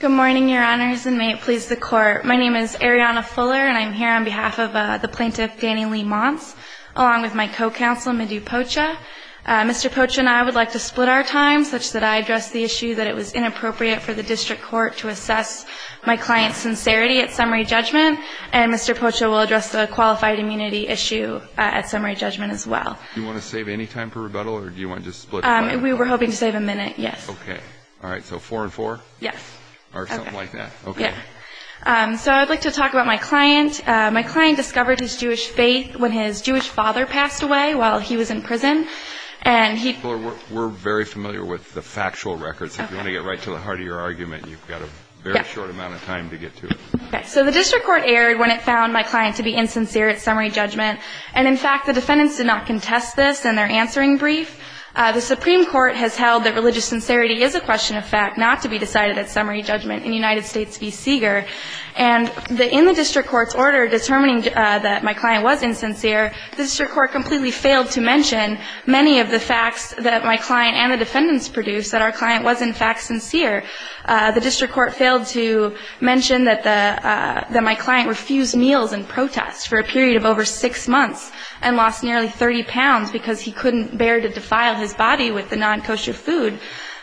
Good morning, your honors, and may it please the court. My name is Arianna Fuller, and I'm here on behalf of the plaintiff Danny Lee Monts, along with my co-counsel Medu Pocha. Mr. Pocha and I would like to split our time such that I address the issue that it was inappropriate for the district court to assess my client's sincerity at summary judgment, and Mr. Pocha will address the qualified immunity issue at summary judgment as well. Do you want to save any time for rebuttal, or do you want to just split time? We were hoping to save a minute, yes. Okay. All right. So four and four? Yes. Or something like that. Okay. So I'd like to talk about my client. My client discovered his Jewish faith when his Jewish father passed away while he was in prison, and he We're very familiar with the factual records. If you want to get right to the heart of your argument, you've got a very short amount of time to get to it. Okay. So the district court erred when it found my client to be insincere at summary judgment, and in fact, the defendants did not contest this in their answering brief. The Supreme Court has held that religious sincerity is a question of fact not to be decided at summary judgment in United States v. Seeger. And in the district court's order determining that my client was insincere, the district court completely failed to mention many of the facts that my client and the defendants produced that our client was, in fact, sincere. The district court failed to mention that my client refused meals in protest for a period of over six months and lost nearly 30 pounds because he couldn't bear to defile his body with the non-kosher food.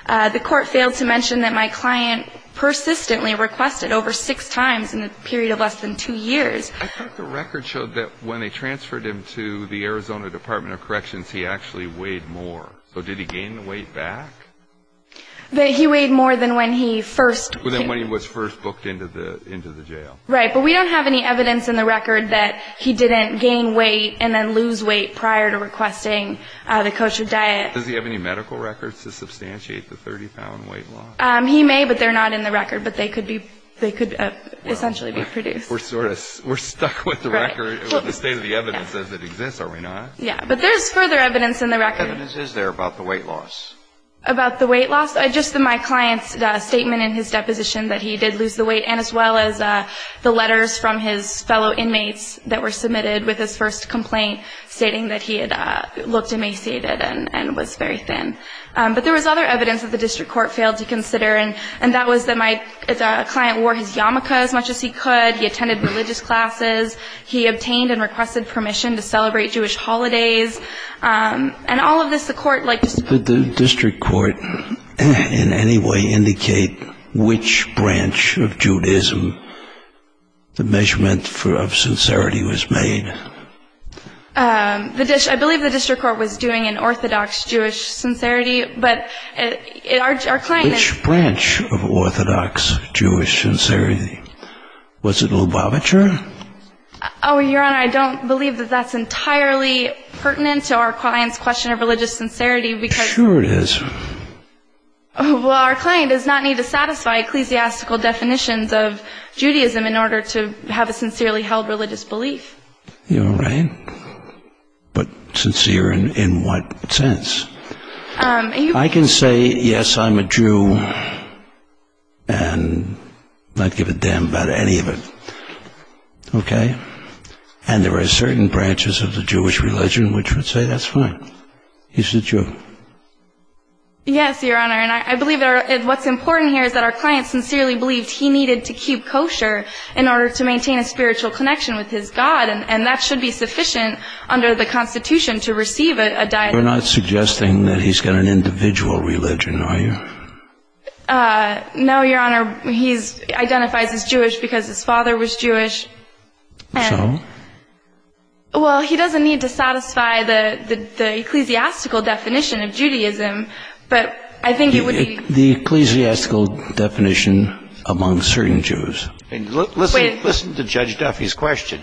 The court failed to mention that my client persistently requested over six times in a period of less than two years. I thought the record showed that when they transferred him to the Arizona Department of Corrections, he actually weighed more. So did he gain the weight back? He weighed more than when he first came. Than when he was first booked into the jail. Right, but we don't have any evidence in the record that he didn't gain weight and then lose weight prior to requesting the kosher diet. Does he have any medical records to substantiate the 30-pound weight loss? He may, but they're not in the record. But they could essentially be produced. We're stuck with the record, with the state of the evidence as it exists, are we not? Yeah, but there's further evidence in the record. What evidence is there about the weight loss? About the weight loss? Just my client's statement in his deposition that he did lose the weight, and as well as the letters from his fellow inmates that were submitted with his first complaint, stating that he had looked emaciated and was very thin. But there was other evidence that the district court failed to consider, and that was that my client wore his yarmulke as much as he could. He attended religious classes. He obtained and requested permission to celebrate Jewish holidays. And all of this, the court, like just the district court. in any way indicate which branch of Judaism the measurement of sincerity was made? I believe the district court was doing an Orthodox Jewish sincerity, but our client is... Which branch of Orthodox Jewish sincerity? Was it Lubavitcher? Oh, Your Honor, I don't believe that that's entirely pertinent to our client's question of religious sincerity because... Well, our client does not need to satisfy ecclesiastical definitions of Judaism in order to have a sincerely held religious belief. You're right. But sincere in what sense? I can say, yes, I'm a Jew and not give a damn about any of it. Okay? And there are certain branches of the Jewish religion which would say that's fine. He's a Jew. Yes, Your Honor, and I believe what's important here is that our client sincerely believed he needed to keep kosher in order to maintain a spiritual connection with his God, and that should be sufficient under the Constitution to receive a... You're not suggesting that he's got an individual religion, are you? No, Your Honor, he identifies as Jewish because his father was Jewish. So? Well, he doesn't need to satisfy the ecclesiastical definition of Judaism, but I think it would be... The ecclesiastical definition among certain Jews. Listen to Judge Duffy's question.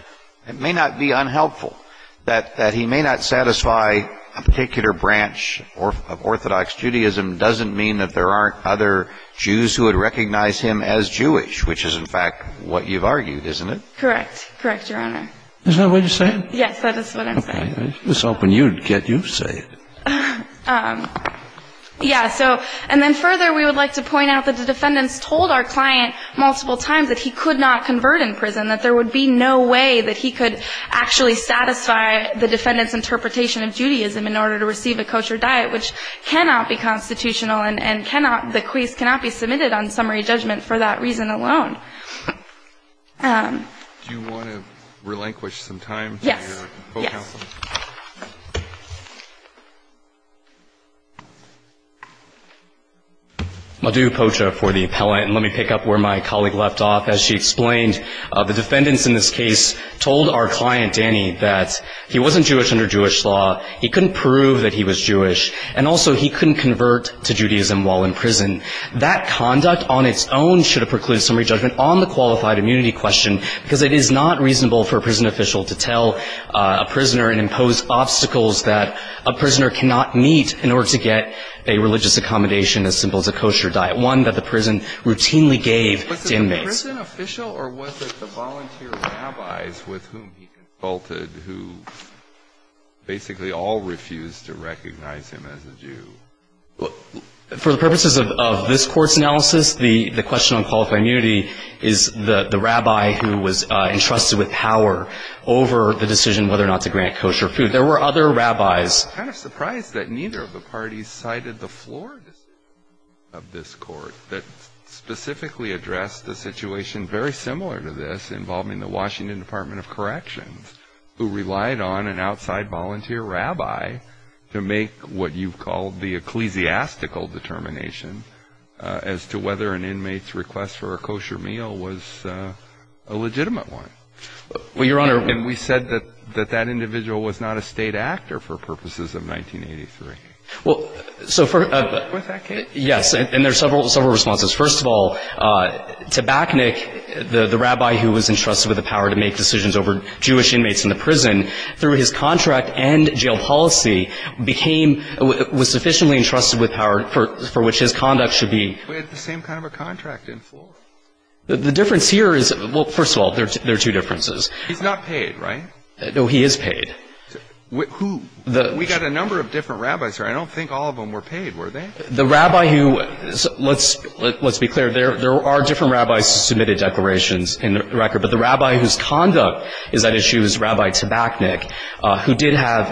It may not be unhelpful that he may not satisfy a particular branch of Orthodox Judaism doesn't mean that there aren't other Jews who would recognize him as Jewish, which is, in fact, what you've argued, isn't it? Correct. Correct, Your Honor. Is that what you're saying? Yes, that is what I'm saying. Okay. I was hoping you'd get used to it. Yeah, so... And then further, we would like to point out that the defendants told our client multiple times that he could not convert in prison, that there would be no way that he could actually satisfy the defendants' interpretation of Judaism in order to receive a kosher diet, which cannot be constitutional, and the case cannot be submitted on summary judgment for that reason alone. Do you want to relinquish some time to your co-counsel? Yes. Yes. I'll do Pocha for the appellant, and let me pick up where my colleague left off. As she explained, the defendants in this case told our client, Danny, that he wasn't Jewish under Jewish law, he couldn't prove that he was Jewish, and also he couldn't convert to Judaism while in prison. That conduct on its own should have precluded summary judgment on the qualified immunity question, because it is not reasonable for a prison official to tell a prisoner and impose obstacles that a prisoner cannot meet in order to get a religious accommodation as simple as a kosher diet, one that the prison routinely gave to inmates. Was he a prison official, or was it the volunteer rabbis with whom he consulted who basically all refused to recognize him as a Jew? For the purposes of this Court's analysis, the question on qualified immunity is the rabbi who was entrusted with power over the decision whether or not to grant kosher food. There were other rabbis. I'm kind of surprised that neither of the parties cited the floor decisions of this Court that specifically addressed the situation very similar to this involving the Washington Department of Corrections who relied on an outside volunteer rabbi to make what you call the ecclesiastical determination as to whether an inmate's request for a kosher meal was a legitimate one. Well, Your Honor, And we said that that individual was not a state actor for purposes of 1983. Well, so for With that case Yes, and there are several responses. First of all, Tabachnik, the rabbi who was entrusted with the power to make decisions over Jewish inmates in the prison, through his contract and jail policy became was sufficiently entrusted with power for which his conduct should be We had the same kind of a contract in full. The difference here is, well, first of all, there are two differences. He's not paid, right? No, he is paid. Who? We got a number of different rabbis here. I don't think all of them were paid, were they? The rabbi who, let's be clear, there are different rabbis who submitted declarations in the record, but the rabbi whose conduct is at issue is Rabbi Tabachnik, who did have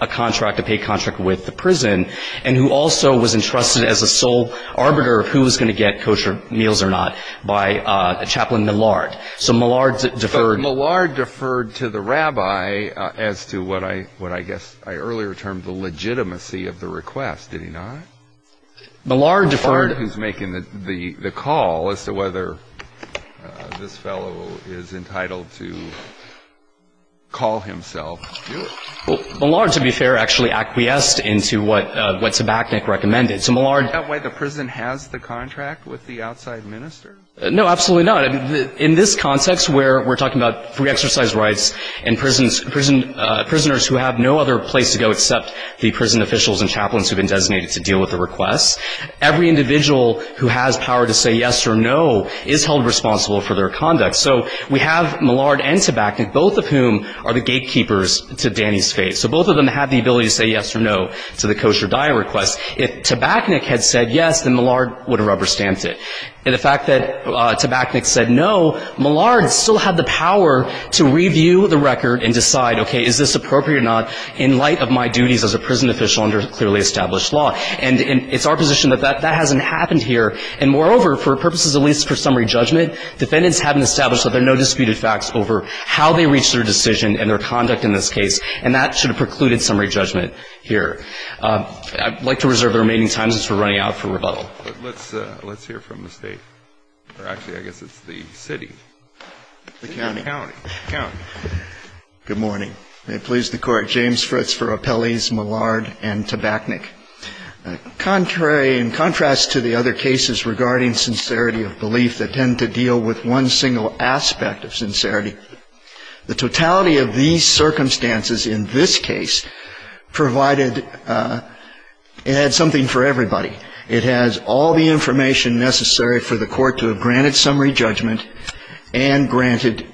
a contract, a paid contract with the prison, and who also was entrusted as a sole arbiter of who was going to get kosher meals or not by Chaplain Millard. So Millard deferred But Millard deferred to the rabbi as to what I guess I earlier termed the legitimacy of the request. Did he not? Millard deferred Millard who's making the call as to whether this fellow is entitled to call himself. Millard, to be fair, actually acquiesced into what Tabachnik recommended. So Millard Is that why the prison has the contract with the outside minister? No, absolutely not. In this context where we're talking about free exercise rights and prisoners who have no other place to go except the prison officials and chaplains who have been designated to deal with the request, every individual who has power to say yes or no is held responsible for their conduct. So we have Millard and Tabachnik, both of whom are the gatekeepers to Danny's faith. So both of them have the ability to say yes or no to the kosher diet request. If Tabachnik had said yes, then Millard would have rubber-stamped it. And the fact that Tabachnik said no, Millard still had the power to review the record and decide, okay, is this appropriate or not in light of my duties as a prison official under clearly established law. And it's our position that that hasn't happened here. And moreover, for purposes of at least for summary judgment, defendants haven't established that there are no disputed facts over how they reached their decision and their conduct in this case, and that should have precluded summary judgment here. I'd like to reserve the remaining time since we're running out for rebuttal. But let's hear from the state. Or actually, I guess it's the city. The county. The county. The county. Good morning. May it please the Court. James Fritz for Appellees Millard and Tabachnik. In contrast to the other cases regarding sincerity of belief that tend to deal with one single aspect of sincerity, the totality of these circumstances in this case provided it had something for everybody. It has all the information necessary for the Court to have granted summary judgment and granted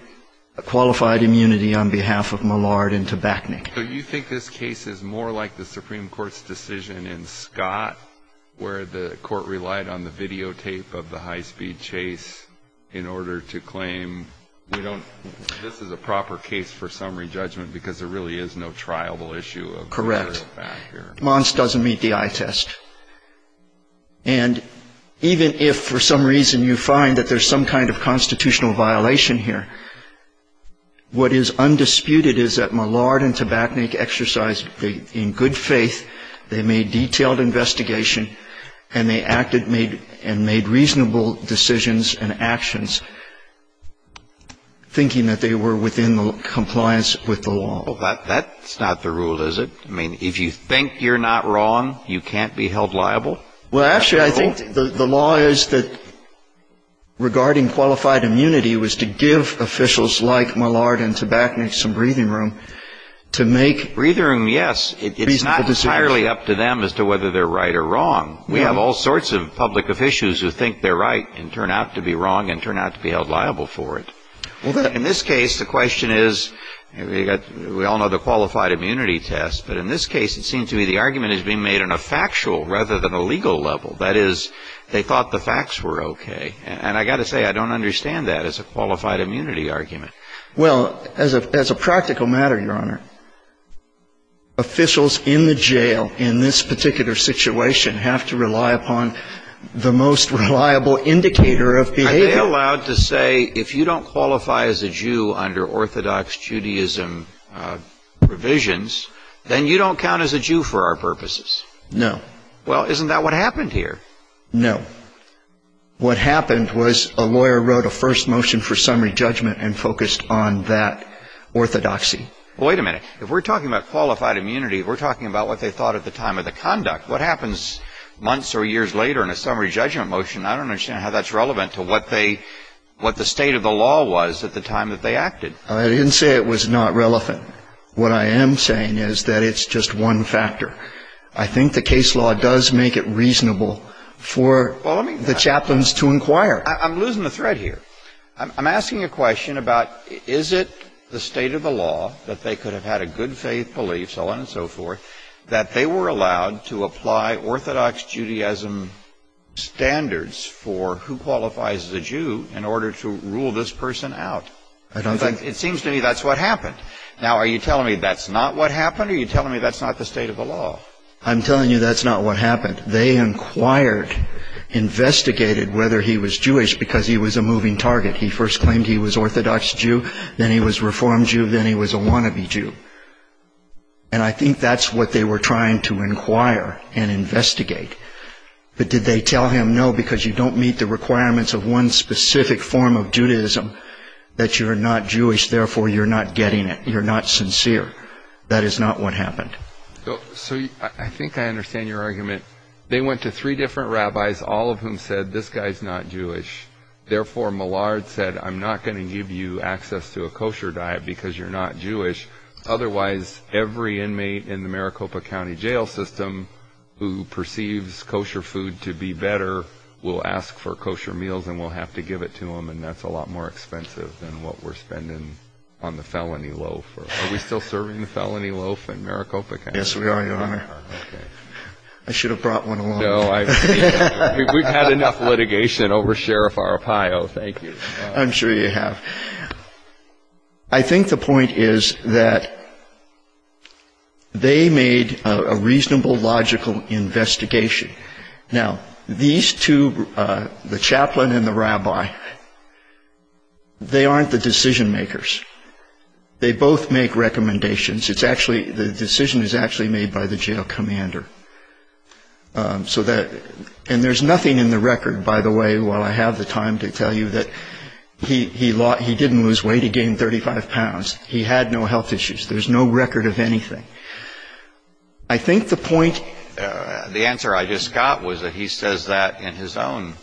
qualified immunity on behalf of Millard and Tabachnik. So you think this case is more like the Supreme Court's decision in Scott, where the Court relied on the videotape of the high-speed chase in order to claim we don't – this is a proper case for summary judgment because there really is no trialable issue of whether or not here. Correct. Mons doesn't meet the eye test. And even if for some reason you find that there's some kind of constitutional violation here, what is undisputed is that Millard and Tabachnik exercised in good faith, they made detailed investigation, and they acted and made reasonable decisions and actions, thinking that they were within compliance with the law. That's not the rule, is it? I mean, if you think you're not wrong, you can't be held liable? Well, actually, I think the law is that regarding qualified immunity was to give officials like Millard and Tabachnik some breathing room to make reasonable decisions. Breathing room, yes. It's not entirely up to them as to whether they're right or wrong. We have all sorts of public officials who think they're right and turn out to be wrong and turn out to be held liable for it. In this case, the question is, we all know the qualified immunity test, but in this case it seems to me the argument is being made on a factual rather than a legal level. That is, they thought the facts were okay. And I've got to say, I don't understand that as a qualified immunity argument. Well, as a practical matter, Your Honor, officials in the jail in this particular situation have to rely upon the most reliable indicator of behavior. They allowed to say, if you don't qualify as a Jew under Orthodox Judaism provisions, then you don't count as a Jew for our purposes. No. Well, isn't that what happened here? No. What happened was a lawyer wrote a first motion for summary judgment and focused on that orthodoxy. Wait a minute. If we're talking about qualified immunity, we're talking about what they thought at the time of the conduct. What happens months or years later in a summary judgment motion, I don't understand how that's relevant to what the state of the law was at the time that they acted. I didn't say it was not relevant. What I am saying is that it's just one factor. I think the case law does make it reasonable for the chaplains to inquire. I'm losing the thread here. I'm asking a question about is it the state of the law that they could have had a good faith belief, that they were allowed to apply Orthodox Judaism standards for who qualifies as a Jew in order to rule this person out. It seems to me that's what happened. Now, are you telling me that's not what happened or are you telling me that's not the state of the law? I'm telling you that's not what happened. They inquired, investigated whether he was Jewish because he was a moving target. He first claimed he was Orthodox Jew, then he was Reform Jew, then he was a wannabe Jew. And I think that's what they were trying to inquire and investigate. But did they tell him no because you don't meet the requirements of one specific form of Judaism, that you're not Jewish, therefore you're not getting it, you're not sincere. That is not what happened. So I think I understand your argument. They went to three different rabbis, all of whom said this guy's not Jewish. Therefore, Millard said I'm not going to give you access to a kosher diet because you're not Jewish. Otherwise, every inmate in the Maricopa County jail system who perceives kosher food to be better will ask for kosher meals and will have to give it to them, and that's a lot more expensive than what we're spending on the felony loaf. Are we still serving the felony loaf in Maricopa County? Yes, we are, Your Honor. I should have brought one along. We've had enough litigation over Sheriff Arpaio. Thank you. I'm sure you have. I think the point is that they made a reasonable, logical investigation. Now, these two, the chaplain and the rabbi, they aren't the decision makers. They both make recommendations. The decision is actually made by the jail commander. And there's nothing in the record, by the way, while I have the time to tell you that he didn't lose weight. He gained 35 pounds. He had no health issues. There's no record of anything. I think the point the answer I just got was that he says that in his own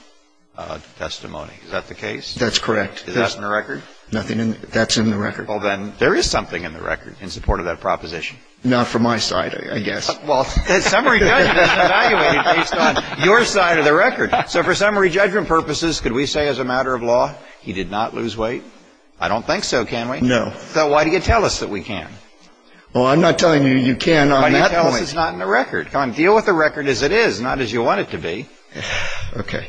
testimony. Is that the case? That's correct. Is that in the record? That's in the record. Well, then, there is something in the record in support of that proposition. Not from my side, I guess. Well, summary judgment is evaluated based on your side of the record. So for summary judgment purposes, could we say as a matter of law he did not lose weight? I don't think so, can we? No. So why do you tell us that we can? Well, I'm not telling you you can on that point. Why do you tell us it's not in the record? Come on, deal with the record as it is, not as you want it to be. Okay.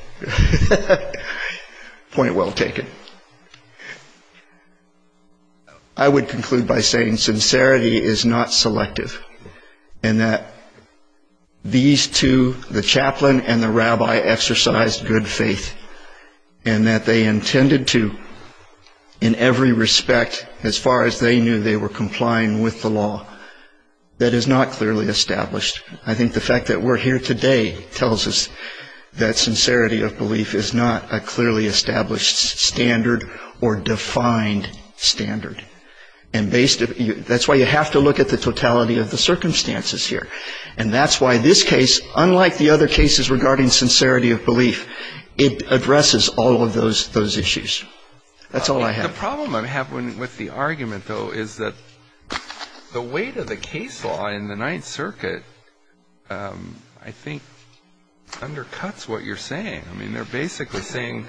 Point well taken. I would conclude by saying sincerity is not selective and that these two, the chaplain and the rabbi, exercised good faith and that they intended to in every respect as far as they knew they were complying with the law. That is not clearly established. I think the fact that we're here today tells us that sincerity of belief is not a clearly established standard or defined standard. And that's why you have to look at the totality of the circumstances here. And that's why this case, unlike the other cases regarding sincerity of belief, it addresses all of those issues. That's all I have. The problem I have with the argument, though, is that the weight of the case law in the Ninth Circuit I think undercuts what you're saying. I mean, they're basically saying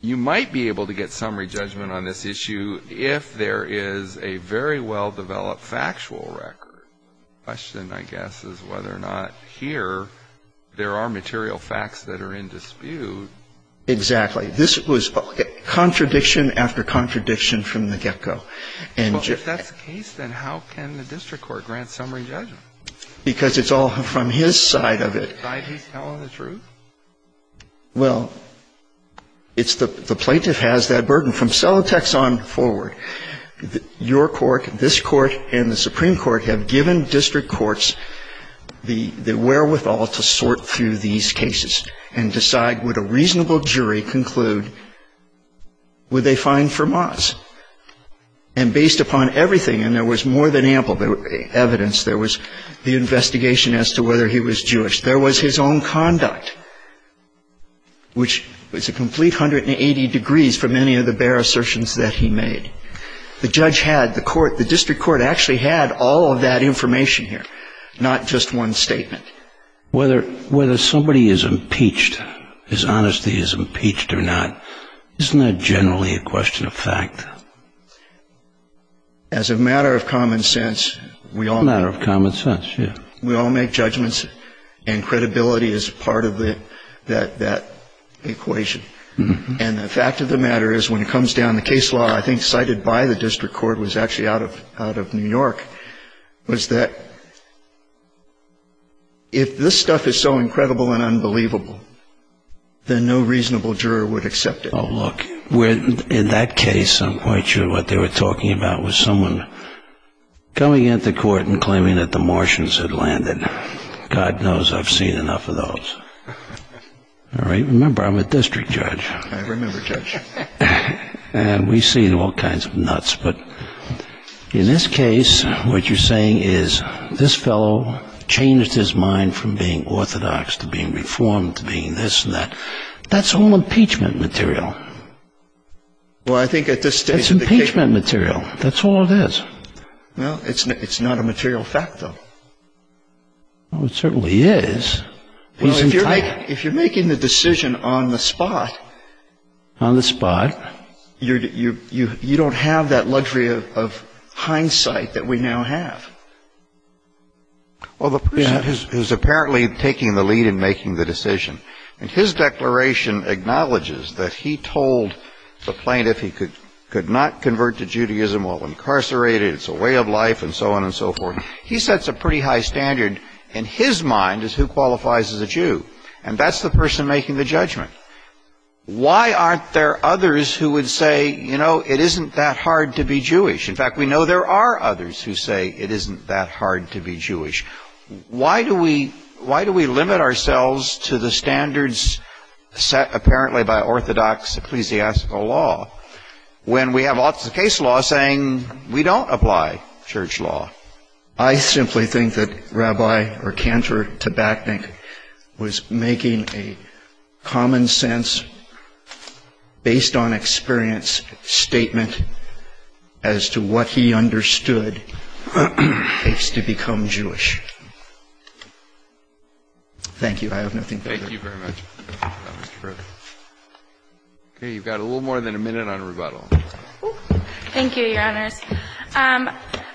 you might be able to get summary judgment on this issue if there is a very well-developed factual record. The question, I guess, is whether or not here there are material facts that are in dispute. Exactly. This was contradiction after contradiction from the get-go. Well, if that's the case, then how can the district court grant summary judgment? Because it's all from his side of it. Well, it's the plaintiff has that burden. From Celotex on forward, your court, this court, and the Supreme Court have given district courts the wherewithal to sort through these cases and decide would a reasonable jury conclude would they fine Fermat? And based upon everything, and there was more than ample evidence, there was the investigation as to whether he was Jewish, there was his own conduct, which was a complete 180 degrees from any of the bare assertions that he made. The judge had, the court, the district court actually had all of that information here, not just one statement. Whether somebody is impeached, his honesty is impeached or not, isn't that generally a question of fact? As a matter of common sense, we all make judgments. And credibility is part of that equation. And the fact of the matter is when it comes down to case law, I think cited by the district court was actually out of New York, was that if this stuff is so incredible and unbelievable, then no reasonable juror would accept it. Oh, look. In that case, I'm quite sure what they were talking about was someone coming into court and claiming that the Martians had landed. God knows I've seen enough of those. All right. Remember, I'm a district judge. I remember, Judge. And we've seen all kinds of nuts. But in this case, what you're saying is this fellow changed his mind from being orthodox to being reformed to being this and that. That's all impeachment material. Well, I think at this stage of the case. That's impeachment material. That's all it is. Well, it's not a material fact, though. Well, it certainly is. Well, if you're making the decision on the spot. On the spot. You don't have that luxury of hindsight that we now have. Well, the person who's apparently taking the lead in making the decision, and his declaration acknowledges that he told the plaintiff he could not convert to Judaism while incarcerated. It's a way of life and so on and so forth. He sets a pretty high standard. In his mind, it's who qualifies as a Jew. And that's the person making the judgment. Why aren't there others who would say, you know, it isn't that hard to be Jewish? In fact, we know there are others who say it isn't that hard to be Jewish. Why do we limit ourselves to the standards set apparently by orthodox ecclesiastical law when we have all the case law saying we don't apply church law? I simply think that Rabbi Cantor Tabachnik was making a common sense, based on experience, statement as to what he understood in case to become Jewish. Thank you. I have nothing further. Thank you very much. Okay. You've got a little more than a minute on rebuttal. Thank you, Your Honors.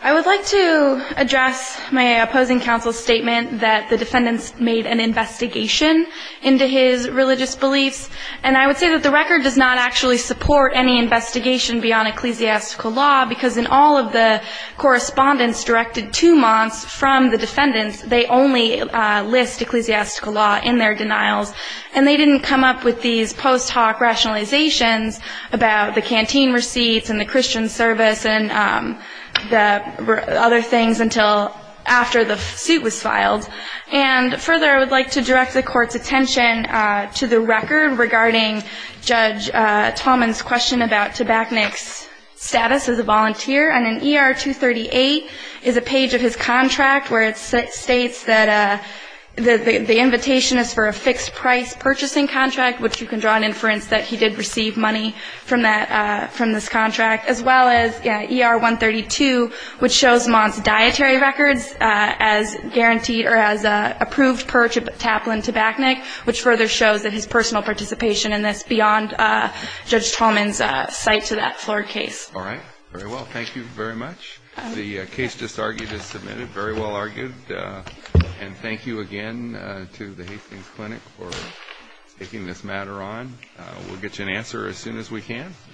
I would like to address my opposing counsel's statement that the defendants made an investigation into his religious beliefs and I would say that the record does not actually support any investigation beyond ecclesiastical law because in all of the correspondence directed two months from the defendants, they only list ecclesiastical law in their denials. And they didn't come up with these post hoc rationalizations about the canteen receipts and the Christian service and other things until after the suit was filed. And further, I would like to direct the Court's attention to the record regarding Judge Tallman's question about Tabachnik's status as a volunteer. And in ER 238 is a page of his contract where it states that the invitation is for a fixed price purchasing contract, which you can draw an inference that he did receive money from this contract, as well as ER 132, which shows Mont's dietary records as guaranteed or as approved per Taplin-Tabachnik, which further shows that his personal participation in this beyond Judge Tallman's site to that floor case. All right. Very well. Thank you very much. The case just argued is submitted. Very well argued. And thank you again to the Hastings Clinic for taking this matter on. We'll get you an answer as soon as we can. Thank you.